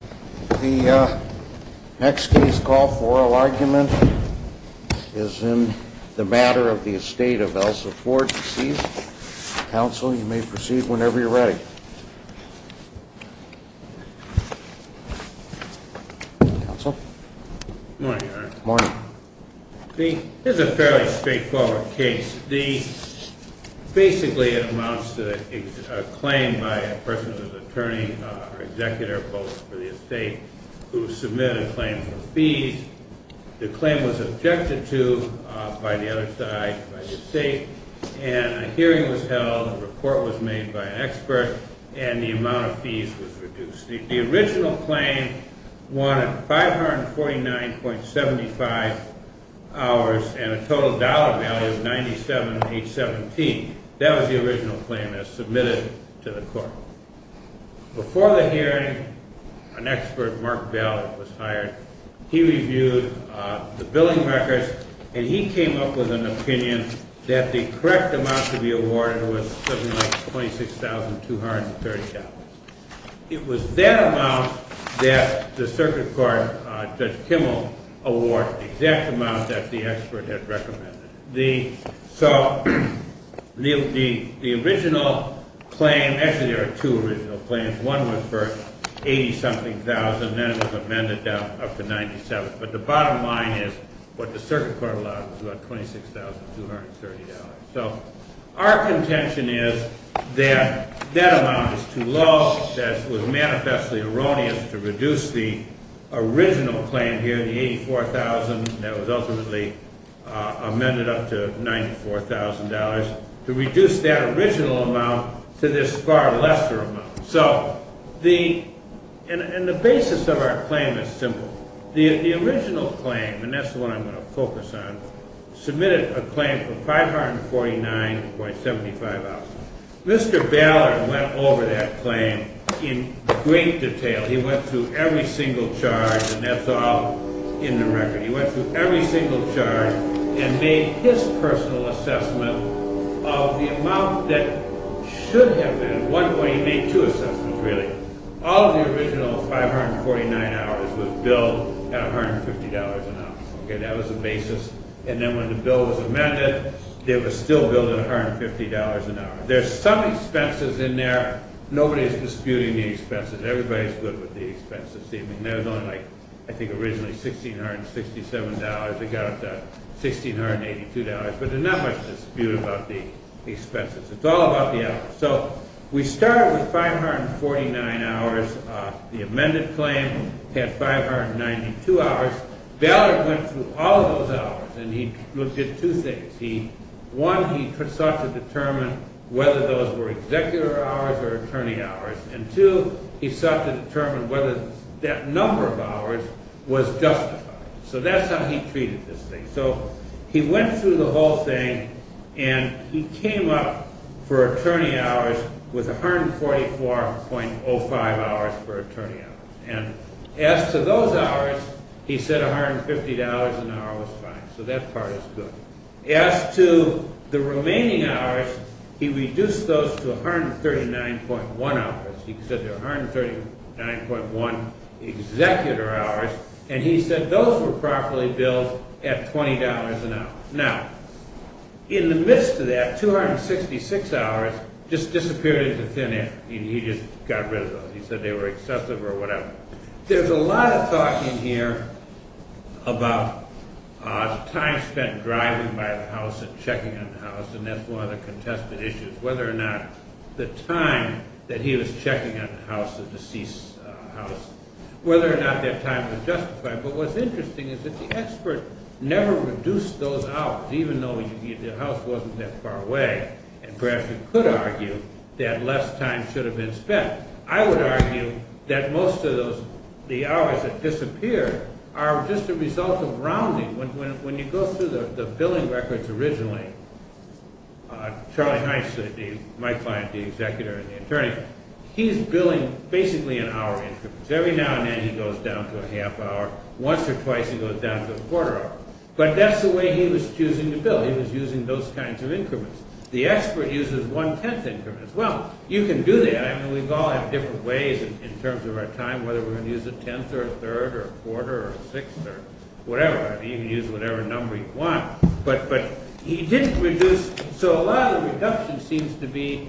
The next case call for oral argument is in the Matter of the Estate of Elsa Ford. Counsel, you may proceed whenever you're ready. Counsel? Good morning, Your Honor. Good morning. This is a fairly straightforward case. Basically, it amounts to a claim by a person who's an attorney or executor, both for the estate, who submitted a claim for fees. The claim was objected to by the other side, by the estate, and a hearing was held. A report was made by an expert, and the amount of fees was reduced. The original claim wanted 549.75 hours and a total dollar value of 97.817. That was the original claim that was submitted to the court. Before the hearing, an expert, Mark Bell, was hired. He reviewed the billing records, and he came up with an opinion that the correct amount to be awarded was $726,230. It was that amount that the circuit court, Judge Kimmel, awarded, the exact amount that the expert had recommended. So the original claim, actually there were two original claims. One was for 80-something thousand, and then it was amended up to 97. But the bottom line is what the circuit court allowed was about $26,230. So our contention is that that amount is too low, that it was manifestly erroneous to reduce the original claim here, the 84,000, that was ultimately amended up to $94,000, to reduce that original amount to this far lesser amount. And the basis of our claim is simple. The original claim, and that's the one I'm going to focus on, submitted a claim for 549.75 hours. Mr. Ballard went over that claim in great detail. He went through every single charge, and that's all in the record. He went through every single charge and made his personal assessment of the amount that should have been. At one point he made two assessments, really. All of the original 549 hours was billed at $150 an hour. That was the basis. And then when the bill was amended, it was still billed at $150 an hour. There's some expenses in there. Nobody's disputing the expenses. Everybody's good with the expenses. There was only, I think, originally $1,667. They got $1,682. But there's not much dispute about the expenses. It's all about the effort. So we started with 549 hours. The amended claim had 592 hours. Ballard went through all of those hours, and he looked at two things. One, he sought to determine whether those were executive hours or attorney hours. And two, he sought to determine whether that number of hours was justified. So that's how he treated this thing. So he went through the whole thing, and he came up for attorney hours with 144.05 hours for attorney hours. And as to those hours, he said $150 an hour was fine. So that part is good. As to the remaining hours, he reduced those to 139.1 hours. He said they're 139.1 executor hours. And he said those were properly billed at $20 an hour. Now, in the midst of that, 266 hours just disappeared into thin air. He just got rid of those. He said they were excessive or whatever. There's a lot of talk in here about time spent driving by the house and checking on the house, and that's one of the contested issues, whether or not the time that he was checking on the house, whether or not that time was justified. But what's interesting is that the expert never reduced those hours, even though the house wasn't that far away. And perhaps we could argue that less time should have been spent. I would argue that most of the hours that disappeared are just a result of rounding. When you go through the billing records originally, Charlie Heiss, my client, the executor and the attorney, he's billing basically in hour increments. Every now and then he goes down to a half hour. Once or twice he goes down to a quarter hour. But that's the way he was choosing to bill. He was using those kinds of increments. The expert uses one-tenth increments. Well, you can do that. I mean, we all have different ways in terms of our time, whether we're going to use a tenth or a third or a quarter or a sixth or whatever. You can use whatever number you want. But he didn't reduce. So a lot of the reduction seems to be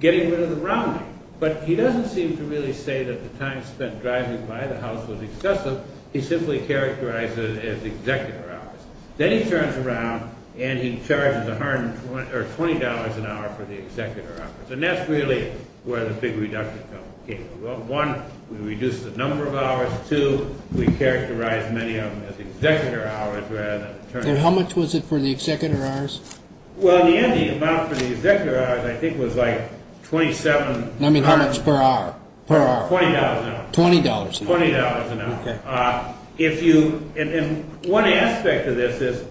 getting rid of the rounding. But he doesn't seem to really say that the time spent driving by the house was excessive. He simply characterized it as executor hours. Then he turns around and he charges $20 an hour for the executor hours. And that's really where the big reduction came from. One, we reduced the number of hours. Two, we characterized many of them as executor hours rather than attorneys. How much was it for the executor hours? Well, in the end, the amount for the executor hours, I think, was like $27. I mean, how much per hour? $20 an hour. $20 an hour. $20 an hour. Okay. And one aspect of this is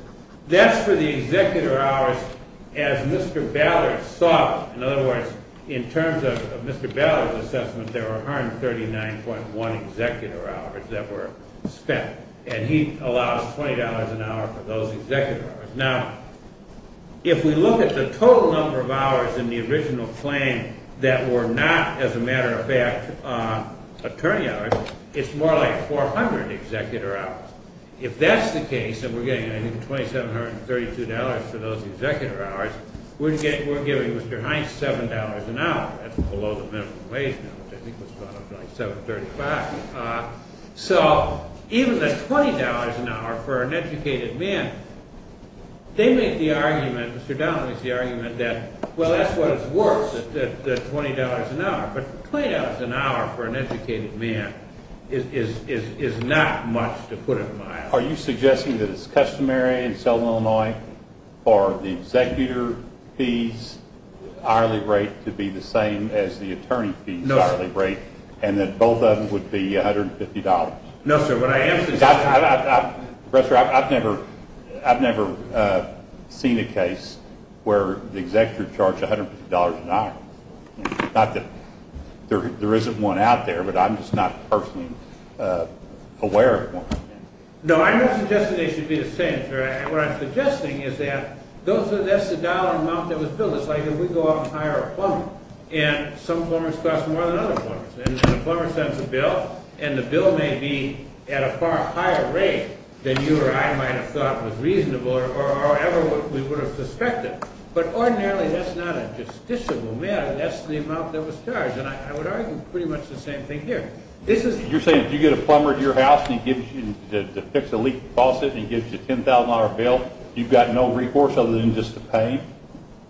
that's for the executor hours as Mr. Ballard saw it. In other words, in terms of Mr. Ballard's assessment, there were 139.1 executor hours that were spent. And he allows $20 an hour for those executor hours. Now, if we look at the total number of hours in the original claim that were not, as a matter of fact, attorney hours, it's more like 400 executor hours. If that's the case, then we're getting, I think, $2,732 for those executor hours. We're giving Mr. Hines $7 an hour. That's below the minimum wage now, which I think was about $7.35. So even the $20 an hour for an educated man, they make the argument, Mr. Downing makes the argument that, well, that's what it's worth, the $20 an hour. But $20 an hour for an educated man is not much, to put it mildly. Are you suggesting that it's customary in Southern Illinois for the executor fee's hourly rate to be the same as the attorney fee's hourly rate? No. And that both of them would be $150? No, sir. I've never seen a case where the executor charged $150 an hour. Not that there isn't one out there, but I'm just not personally aware of one. No, I'm not suggesting they should be the same, sir. What I'm suggesting is that that's the dollar amount that was billed. It's like if we go out and hire a plumber, and some plumbers cost more than other plumbers. And the plumber sends a bill, and the bill may be at a far higher rate than you or I might have thought was reasonable, or however we would have suspected. But ordinarily, that's not a justiciable matter. That's the amount that was charged. And I would argue pretty much the same thing here. You're saying if you get a plumber to your house and he gives you, to fix a leak in the faucet, and he gives you a $10,000 bill, you've got no recourse other than just to pay?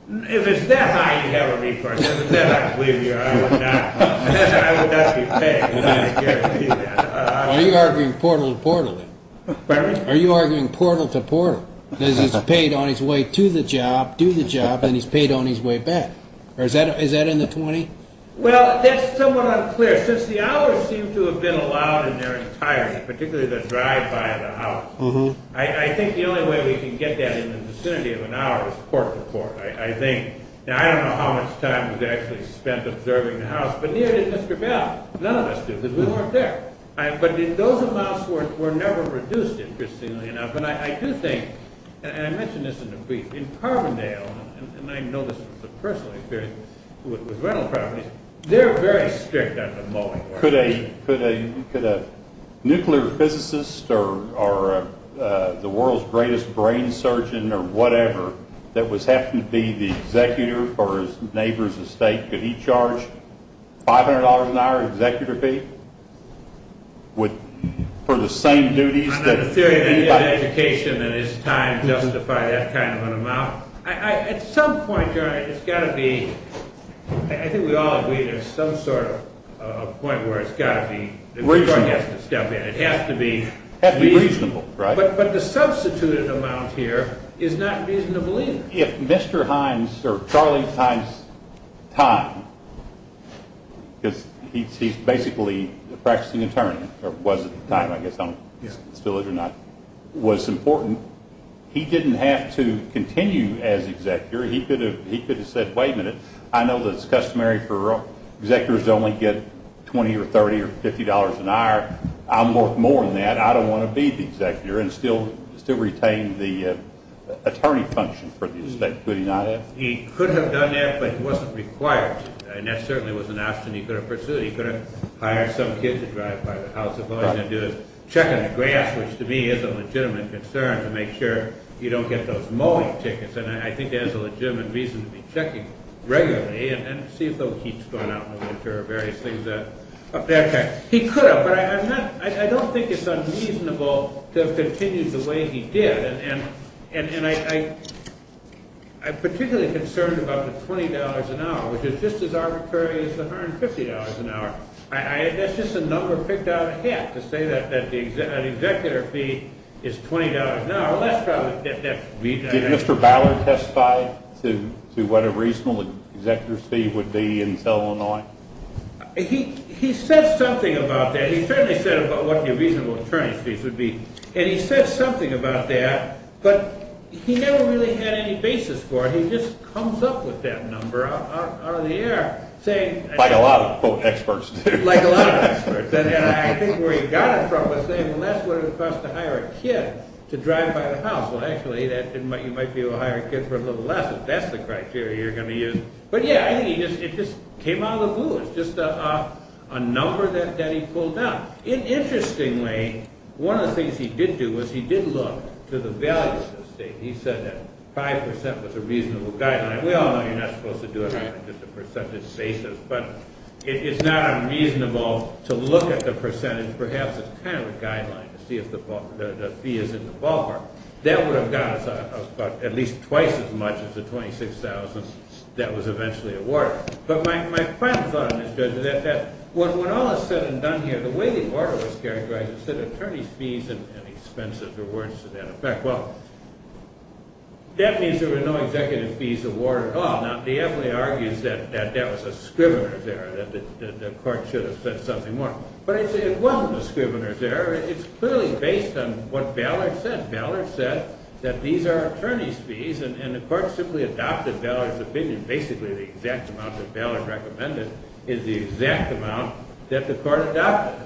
If it's that high, you have a recourse. If it's that high, believe me, I would not. I would not be paying. Why are you arguing portal to portal, then? Pardon me? Why are you arguing portal to portal? Because he's paid on his way to the job, do the job, and he's paid on his way back. Or is that in the 20? Well, that's somewhat unclear. Since the hours seem to have been allowed in their entirety, particularly the drive-by of the house, I think the only way we can get that in the vicinity of an hour is port to port. I don't know how much time was actually spent observing the house, but neither did Mr. Bell. None of us did, because we weren't there. But those amounts were never reduced, interestingly enough. But I do think, and I mentioned this in the brief, in Carbondale, and I know this was a personal experience with rental properties, they're very strict on the mowing. Could a nuclear physicist or the world's greatest brain surgeon or whatever that was having to be the executor for his neighbor's estate, could he charge $500 an hour executor fee for the same duties? The theory that he had education in his time justified that kind of an amount. At some point, John, it's got to be, I think we all agree, there's some sort of point where it's got to be, the court has to step in. It has to be reasonable. But the substituted amount here is not reasonable either. If Mr. Hines, or Charlie Hines' time, because he's basically a practicing attorney, or was at the time, I guess, still is or not, was important, he didn't have to continue as executor. He could have said, wait a minute. I know that it's customary for executors to only get $20 or $30 or $50 an hour. I'm worth more than that. I don't want to be the executor, and still retain the attorney function for the estate. Could he not have? He could have done that, but he wasn't required to. And that certainly was an option he could have pursued. He could have hired some kid to drive by the house if all he's going to do is check on the grass, which to me is a legitimate concern to make sure you don't get those mowing tickets. And I think that is a legitimate reason to be checking regularly and see if those heaps going out in the winter are various things. He could have, but I don't think it's unreasonable to have continued the way he did. And I'm particularly concerned about the $20 an hour, which is just as arbitrary as the $150 an hour. That's just a number picked out of a hat to say that an executor fee is $20 an hour. Did Mr. Ballard testify to what a reasonable executor's fee would be in Illinois? He said something about that. He certainly said about what the reasonable attorney fees would be. And he said something about that, but he never really had any basis for it. He just comes up with that number out of the air. Like a lot of experts do. Like a lot of experts. And I think where he got it from was saying, well, that's what it would cost to hire a kid to drive by the house. Well, actually, you might be able to hire a kid for a little less if that's the criteria you're going to use. But, yeah, I think it just came out of the blue. It's just a number that he pulled out. Interestingly, one of the things he did do was he did look to the values of the state. He said that 5% was a reasonable guideline. We all know you're not supposed to do it on just a percentage basis. But it's not unreasonable to look at the percentage. Perhaps it's kind of a guideline to see if the fee is in the ballpark. That would have got us at least twice as much as the $26,000 that was eventually awarded. But my final thought on this, Judge, is that when all is said and done here, the way the order was characterized is that attorney's fees and expenses are worse to that effect. Well, that means there were no executive fees awarded at all. Now, D'Effley argues that that was a scrivener's error, that the court should have said something more. But I'd say it wasn't a scrivener's error. It's clearly based on what Ballard said. Ballard said that these are attorney's fees, and the court simply adopted Ballard's opinion. Basically, the exact amount that Ballard recommended is the exact amount that the court adopted.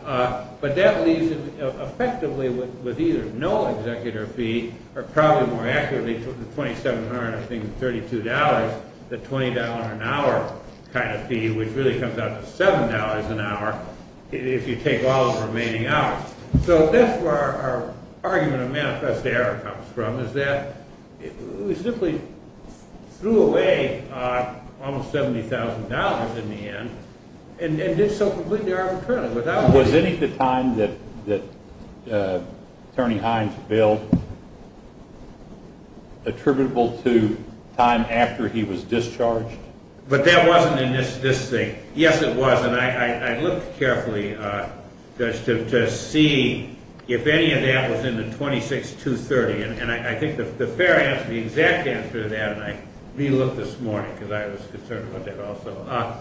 But that leaves effectively with either no executive fee, or probably more accurately, $2,732, the $20 an hour kind of fee, which really comes out to $7 an hour if you take all of the remaining hours. So that's where our argument of manifest error comes from, is that we simply threw away almost $70,000 in the end and did so completely arbitrarily. Was any of the time that Attorney Hines billed attributable to time after he was discharged? But that wasn't in this thing. Yes, it was, and I looked carefully to see if any of that was in the 26-230, and I think the fair answer, the exact answer to that, and I re-looked this morning because I was concerned about that also.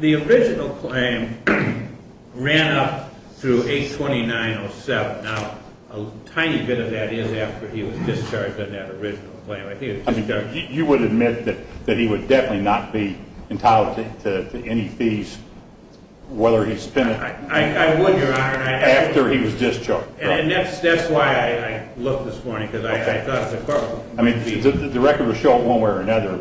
The original claim ran up through 829.07. Now, a tiny bit of that is after he was discharged in that original claim. You would admit that he would definitely not be entitled to any fees, whether he's been... I would, Your Honor. After he was discharged. And that's why I looked this morning, because I thought the court would be... The record will show it one way or another,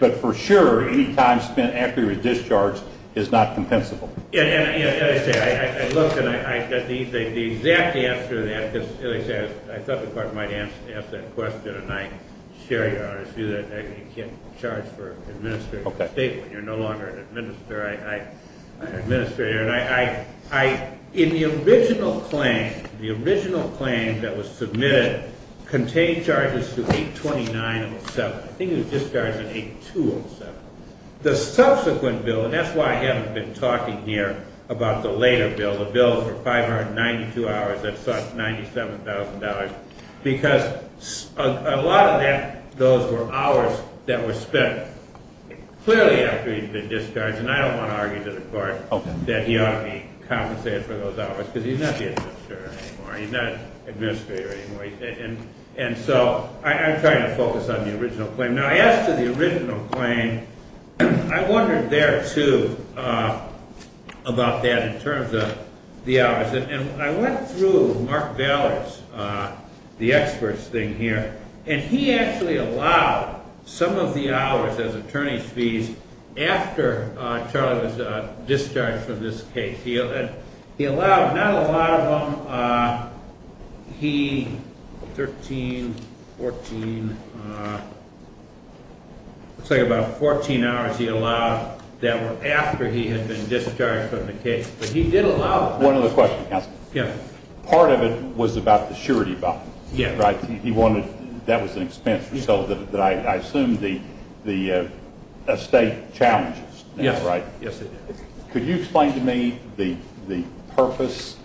but for sure, any time spent after he was discharged is not compensable. And as I say, I looked, and I got the exact answer to that, because as I said, I thought the court might ask that question, and I share Your Honor's view that you can't charge for administrative state when you're no longer an administrator. In the original claim, the original claim that was submitted contained charges to 829.07. I think it was discharged in 8207. The subsequent bill, and that's why I haven't been talking here about the later bill, the bill for 592 hours that sought $97,000, because a lot of those were hours that were spent clearly after he'd been discharged, and I don't want to argue to the court that he ought to be compensated for those hours, because he's not the administrator anymore. He's not an administrator anymore. And so I'm trying to focus on the original claim. Now, as to the original claim, I wondered there, too, about that in terms of the hours. And I went through Mark Valor's, the experts thing here, and he actually allowed some of the hours as attorney's fees after Charlie was discharged from this case. He allowed not a lot of them. He, 13, 14, looks like about 14 hours he allowed that were after he had been discharged from the case. One other question, counsel. Yes. Part of it was about the surety bond. Yes. Right? He wanted, that was an expense, so I assume the estate challenges. Yes. Right? Yes, it did. Could you explain to me the purpose,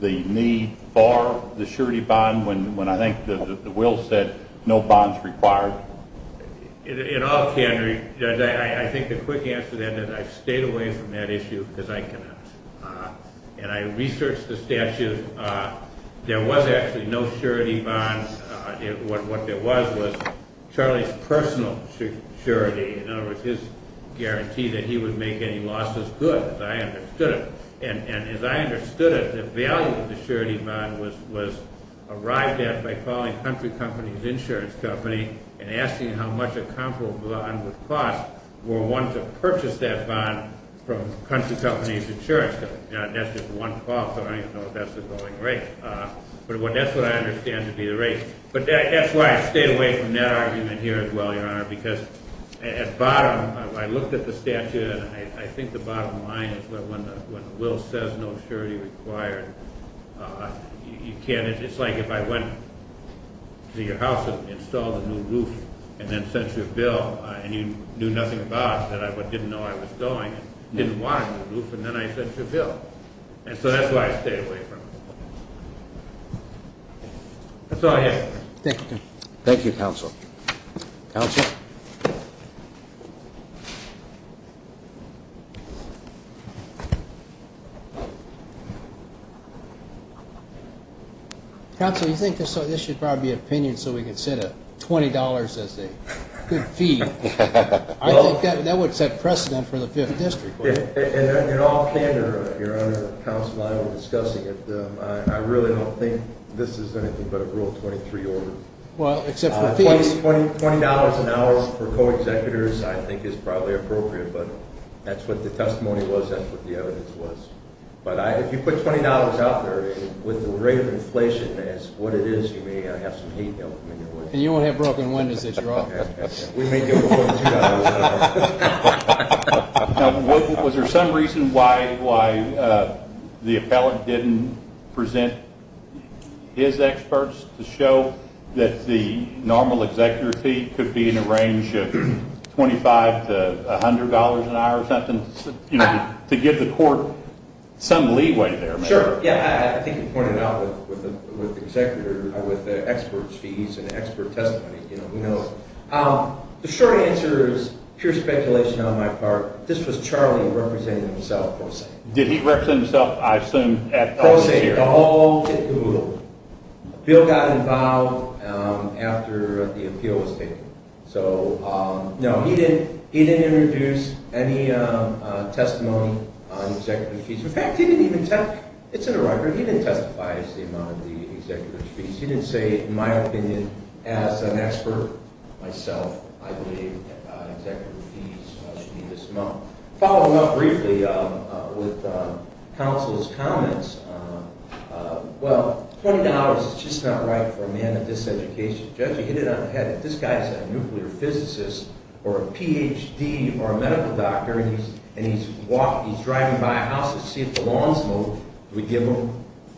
the need for the surety bond when I think the will said no bonds required? In all candor, I think the quick answer to that is I stayed away from that issue because I cannot. And I researched the statute. There was actually no surety bond. What there was was Charlie's personal surety. In other words, his guarantee that he would make any losses good, as I understood it. The value of the surety bond was arrived at by calling Country Company's insurance company and asking how much a comparable bond would cost were one to purchase that bond from Country Company's insurance company. That's just one call, so I don't even know if that's the going rate. But that's what I understand to be the rate. But that's why I stayed away from that argument here as well, Your Honor, because at bottom, I looked at the statute, and I think the bottom line is that when the will says no surety required, it's like if I went to your house and installed a new roof and then sent you a bill and you knew nothing about it but didn't know I was going and didn't want a new roof, and then I sent you a bill. And so that's why I stayed away from it. Thank you, counsel. Counsel? Counsel, you think this should probably be an opinion so we can set a $20 as a good fee. I think that would set precedent for the Fifth District. In all candor, Your Honor, counsel, I'm not discussing it. I really don't think this is anything but a Rule 23 order. Well, except for fees. $20 an hour for co-executors I think is probably appropriate, but that's what the testimony was, that's what the evidence was. But if you put $20 out there with the rate of inflation as what it is, you may have some heat coming your way. And you won't have broken windows that you're offering. We may give it more than $2 an hour. Now, was there some reason why the appellant didn't present his experts to show that the normal executor fee could be in the range of $25 to $100 an hour or something, to give the court some leeway there? Sure, yeah, I think you pointed it out with the executor, with the expert fees and expert testimony. The short answer is pure speculation on my part. This was Charlie representing himself, per se. Did he represent himself? I assume at all. Per se, at all. Bill got involved after the appeal was taken. So, no, he didn't introduce any testimony on executive fees. In fact, he didn't even testify. It's in the record. He didn't testify as to the amount of the executive fees. He didn't say, in my opinion, as an expert, myself, I believe executive fees should be this amount. Following up briefly with counsel's comments, well, $20 is just not right for a man of this education. Judge, you hit it on the head that this guy is a nuclear physicist or a Ph.D. or a medical doctor, and he's driving by a house to see if the lawn's mowed. Do we give him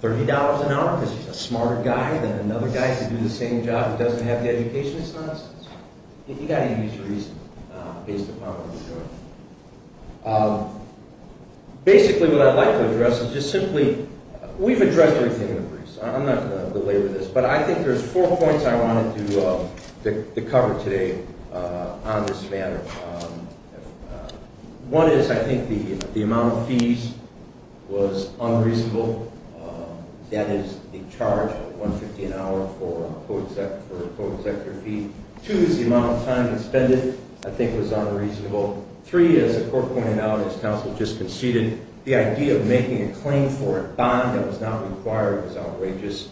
$30 an hour because he's a smarter guy than another guy who can do the same job who doesn't have the education? It's nonsense. You've got to use reason based upon what you're doing. Basically, what I'd like to address is just simply we've addressed everything in the briefs. I'm not going to delay with this, but I think there's four points I wanted to cover today on this matter. One is I think the amount of fees was unreasonable. That is the charge of $150 an hour for a co-executive fee. Two is the amount of time expended I think was unreasonable. Three is, as the court pointed out, as counsel just conceded, the idea of making a claim for a bond that was not required was outrageous.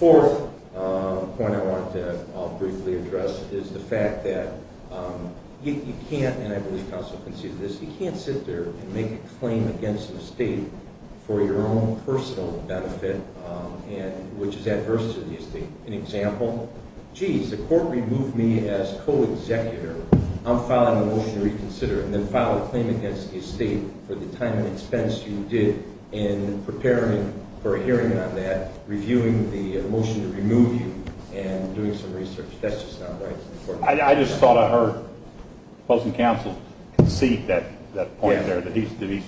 Fourth point I wanted to briefly address is the fact that you can't, and I believe counsel conceded this, you can't sit there and make a claim against the state for your own personal benefit, which is adverse to the estate. An example, geez, the court removed me as co-executor. I'm filing a motion to reconsider and then file a claim against the estate for the time and expense you did in preparing for a hearing on that. Reviewing the motion to remove you and doing some research, that's just not right. I just thought I heard opposing counsel concede that point there that he's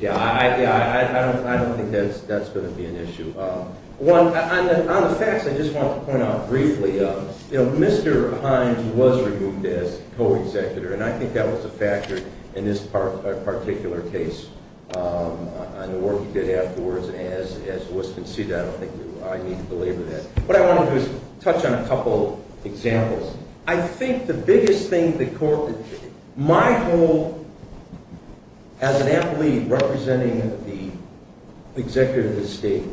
Yeah, I don't think that's going to be an issue. One, on the facts, I just want to point out briefly, Mr. Hines was removed as co-executor, and I think that was a factor in this particular case. And the work he did afterwards, as was conceded, I don't think I need to belabor that. What I want to do is touch on a couple examples. I think the biggest thing the court, my whole, as an employee representing the executive of the state,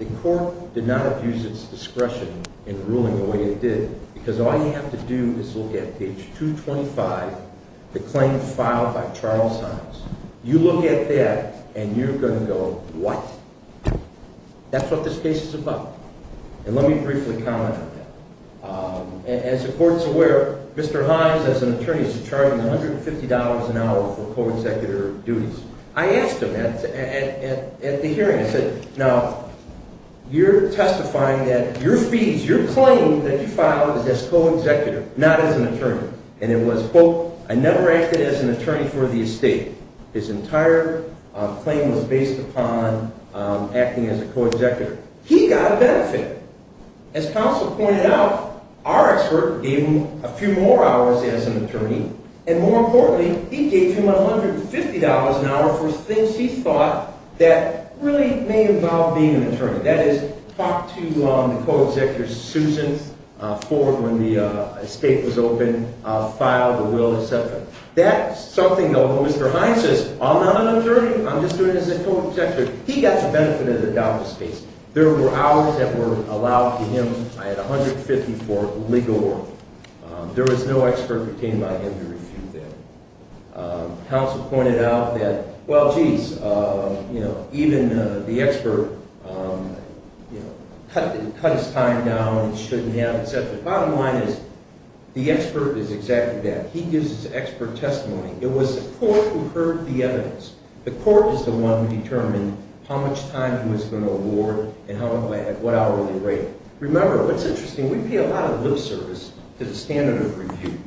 the court did not abuse its discretion in ruling the way it did, because all you have to do is look at page 225, the claim filed by Charles Hines. You look at that, and you're going to go, what? That's what this case is about. And let me briefly comment on that. As the court is aware, Mr. Hines, as an attorney, is charging $150 an hour for co-executor duties. I asked him at the hearing, I said, now, you're testifying that your fees, your claim that you filed is as co-executor, not as an attorney. And it was, quote, I never acted as an attorney for the estate. His entire claim was based upon acting as a co-executor. He got a benefit. As counsel pointed out, our expert gave him a few more hours as an attorney, and more importantly, he gave him $150 an hour for things he thought that really may involve being an attorney. That is, talk to the co-executor Susan Ford when the estate was open, file the will, et cetera. That's something, though, Mr. Hines says, I'm not an attorney. I'm just doing it as a co-executor. He got the benefit of the doubtless case. There were hours that were allowed to him. I had $150 for legal work. There was no expert retained by him to refute that. Counsel pointed out that, well, geez, even the expert cut his time down and shouldn't have, et cetera. Bottom line is the expert is exactly that. He gives his expert testimony. It was the court who heard the evidence. The court is the one who determined how much time he was going to award and at what hourly rate. Remember, what's interesting, we pay a lot of lip service to the standard of review.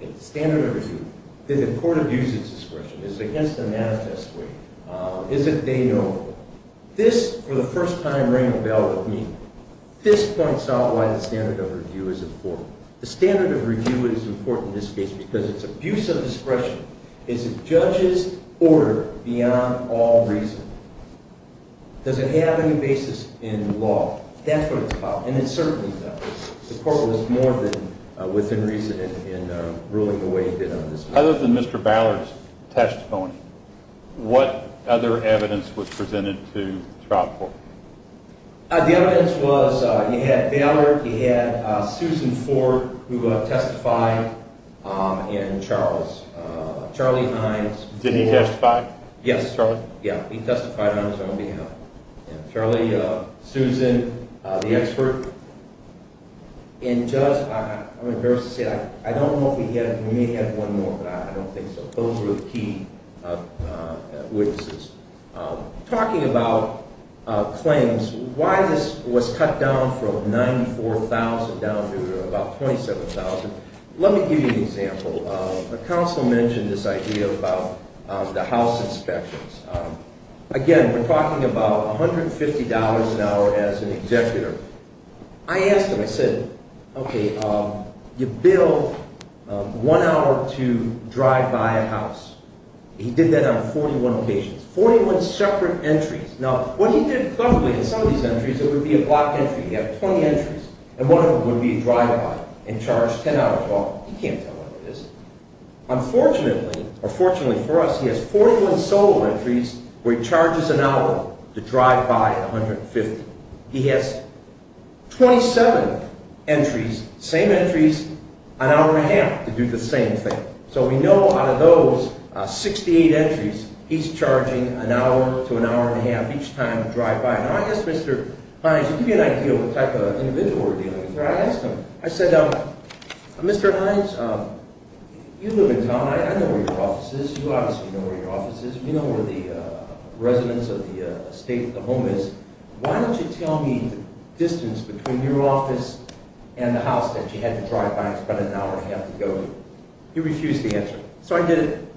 The standard of review, did the court abuse its discretion? Is it against the manifest way? Is it de novo? This, for the first time, rang a bell with me. This points out why the standard of review is important. The standard of review is important in this case because it's abuse of discretion. Is it judge's order beyond all reason? Does it have any basis in law? That's what it's about, and it certainly does. The court was more than within reason in ruling the way it did on this case. Other than Mr. Ballard's testimony, what other evidence was presented to the trial court? The evidence was you had Ballard, you had Susan Ford, who testified, and Charles, Charlie Hines. Did he testify? Yes. Charlie? Yeah, he testified on his own behalf. Charlie, Susan, the expert. And Judge, I'm embarrassed to say, I don't know if we had, we may have one more, but I don't think so. Those were the key witnesses. Talking about claims, why this was cut down from 94,000 down to about 27,000, let me give you an example. The counsel mentioned this idea about the house inspections. Again, we're talking about $150 an hour as an executor. I asked him, I said, okay, you bill one hour to drive by a house. He did that on 41 occasions, 41 separate entries. Now, what he did, luckily, in some of these entries, it would be a blocked entry. He had 20 entries, and one of them would be a drive-by and charged 10 hours. Well, he can't tell what it is. Unfortunately, or fortunately for us, he has 41 solo entries where he charges an hour to drive by at $150. He has 27 entries, same entries, an hour and a half to do the same thing. So we know out of those 68 entries, he's charging an hour to an hour and a half each time to drive by. Now, I asked Mr. Hines, to give you an idea of the type of individual we're dealing with. I asked him, I said, Mr. Hines, you live in town. I know where your office is. You obviously know where your office is. You know where the residence or the estate or the home is. Why don't you tell me the distance between your office and the house that you had to drive by and spend an hour and a half to go to? He refused to answer. So I did it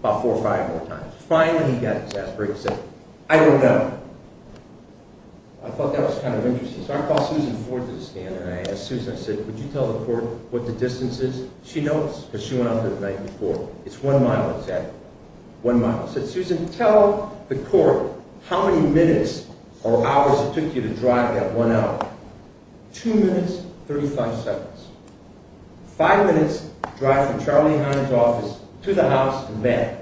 about four or five more times. Finally, he got his ass break and said, I don't know. I thought that was kind of interesting. So I called Susan Ford to the stand, and I asked Susan, I said, would you tell the court what the distance is? She knows because she went out the night before. It's one mile, exactly, one mile. I said, Susan, tell the court how many minutes or hours it took you to drive that one hour. Two minutes, 35 seconds. Five minutes drive from Charlie Hines' office to the house and back.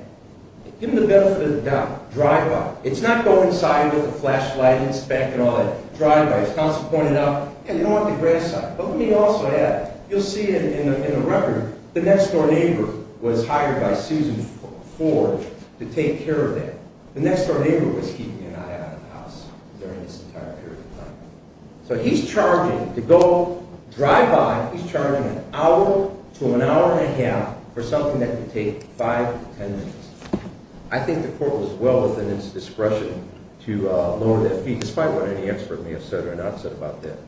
Give him the benefit of the doubt. Drive by. It's not go inside with a flashlight, inspect and all that. Drive by. As counsel pointed out, you don't want the grass on it. But let me also add, you'll see in the record, the next door neighbor was hired by Susan Ford to take care of that. The next door neighbor was keeping an eye on the house during this entire period of time. So he's charging to go drive by, he's charging an hour to an hour and a half for something that could take five to ten minutes. I think the court was well within its discretion to lower that fee, despite what any expert may have said or not said about that.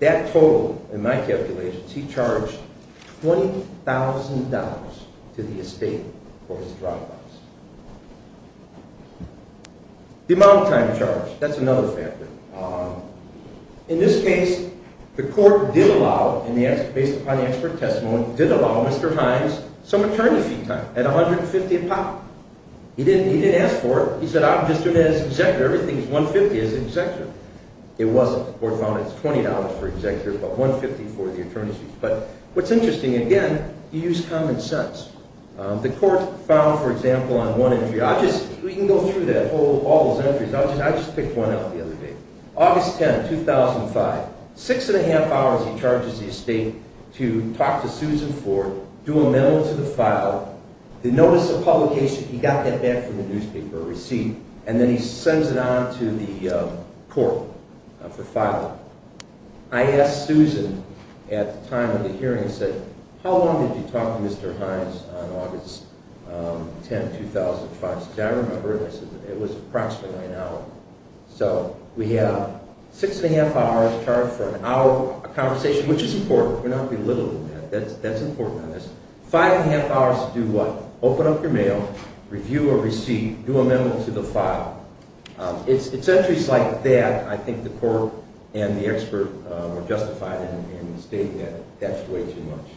That total, in my calculations, he charged $20,000 to the estate for his drive-bys. The amount of time charged, that's another factor. In this case, the court did allow, based upon the expert testimony, did allow Mr. Hines some attorney fee time at $150,000. He didn't ask for it. He said, I'm just doing it as an executive. Everything is $150,000 as an executive. It wasn't. The court found it was $20,000 for executive, but $150,000 for the attorney fee. But what's interesting, again, you use common sense. The court found, for example, on one entry, I'll just, we can go through that, all those entries. I just picked one out the other day. August 10, 2005, six and a half hours he charges the estate to talk to Susan Ford, do a memo to the file, the notice of publication, he got that back from the newspaper, a receipt, and then he sends it on to the court for filing. I asked Susan at the time of the hearing, I said, how long did you talk to Mr. Hines on August 10, 2005? She said, I don't remember. I said, it was approximately an hour. So we have six and a half hours charged for an hour of conversation, which is important. We're not belittling that. That's important on this. Five and a half hours to do what? Open up your mail, review a receipt, do a memo to the file. It's entries like that I think the court and the expert were justified in stating that that's way too much.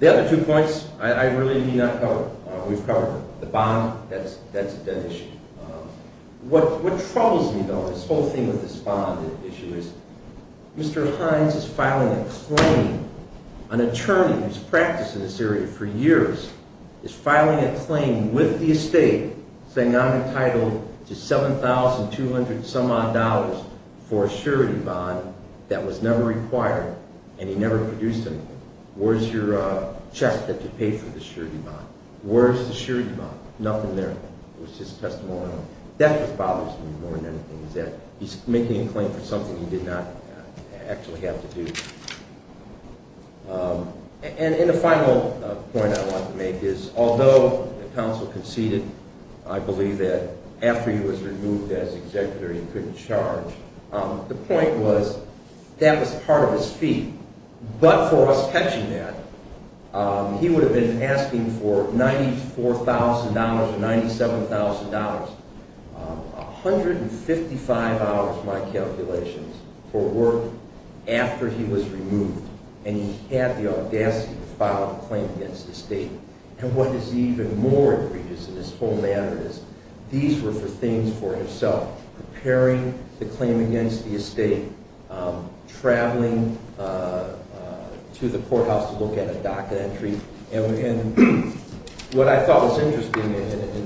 The other two points I really need not cover. We've covered the bond. That's an issue. What troubles me, though, this whole thing with this bond issue is Mr. Hines is filing a claim, an attorney who's practiced in this area for years is filing a claim with the estate saying I'm entitled to $7,200 some odd for a surety bond that was never required and he never produced anything. Where's your check that you paid for the surety bond? Where's the surety bond? Nothing there. It was just testimonial. That's what bothers me more than anything is that he's making a claim for something he did not actually have to do. And the final point I want to make is although the counsel conceded, I believe that after he was removed as executive he couldn't charge, the point was that was part of his fee, but for us catching that, he would have been asking for $94,000 or $97,000, 155 hours, my calculations, for work after he was removed and he had the audacity to file a claim against the estate. And what is even more egregious in this whole matter is these were for things for himself, preparing the claim against the estate, traveling to the courthouse to look at a DACA entry. And what I thought was interesting in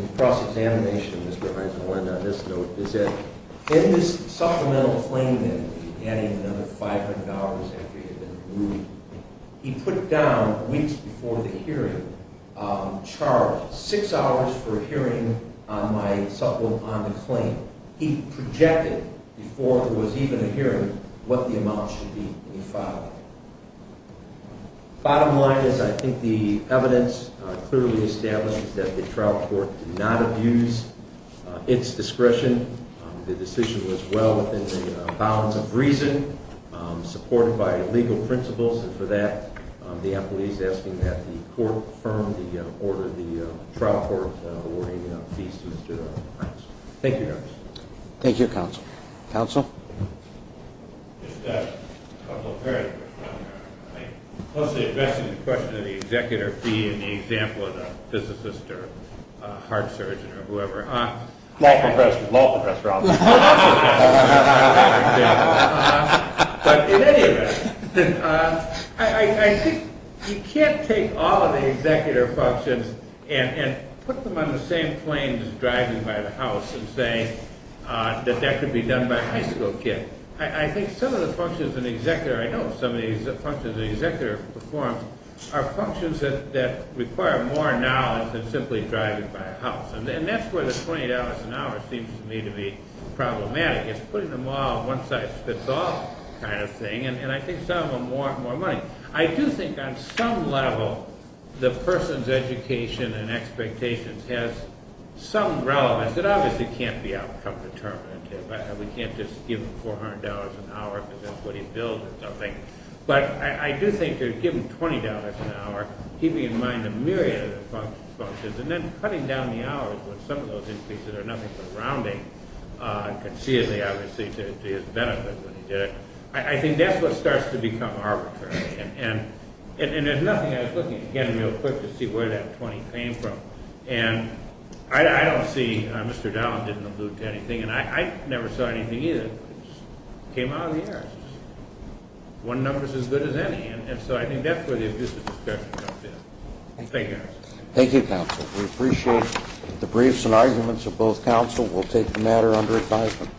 the cross-examination, Mr. Hines, I want to end on this note, is that in this supplemental claim then, adding another $500 after he had been removed, he put down weeks before the hearing, charged six hours for a hearing on the claim. He projected before there was even a hearing what the amount should be when he filed it. Bottom line is I think the evidence clearly establishes that the trial court did not abuse its discretion. The decision was well within the bounds of reason, supported by legal principles, and for that the appellee is asking that the court confirm the order of the trial court awarding fees to Mr. Hines. Thank you, Your Honor. Thank you, counsel. Counsel? Just a couple of paragraphs. I think mostly addressing the question of the executor fee and the example of the physicist or heart surgeon or whoever. Law professor. Law professor, obviously. But in any event, I think you can't take all of the executor functions and put them on the same plane as driving by the house and saying that that could be done by a high school kid. I think some of the functions an executor, I know some of the functions an executor performs are functions that require more knowledge than simply driving by a house, and that's where the $20 an hour seems to me to be problematic. It's putting them all on one side spits off kind of thing, and I think some of them warrant more money. I do think on some level the person's education and expectations has some relevance. It obviously can't be outcome determinative. We can't just give him $400 an hour because that's what he billed or something. But I do think to give him $20 an hour, keeping in mind a myriad of other functions, and then cutting down the hours with some of those increases that are nothing but rounding, conceivably obviously to his benefit when he did it, I think that's what starts to become arbitrary. And there's nothing I was looking at again real quick to see where that $20 came from. And I don't see Mr. Dallin didn't allude to anything, and I never saw anything either. It just came out of the air. One number's as good as any, and so I think that's where the abusive discussion comes in. Thank you. Thank you, counsel. We appreciate the briefs and arguments of both counsel. We'll take the matter under advisement.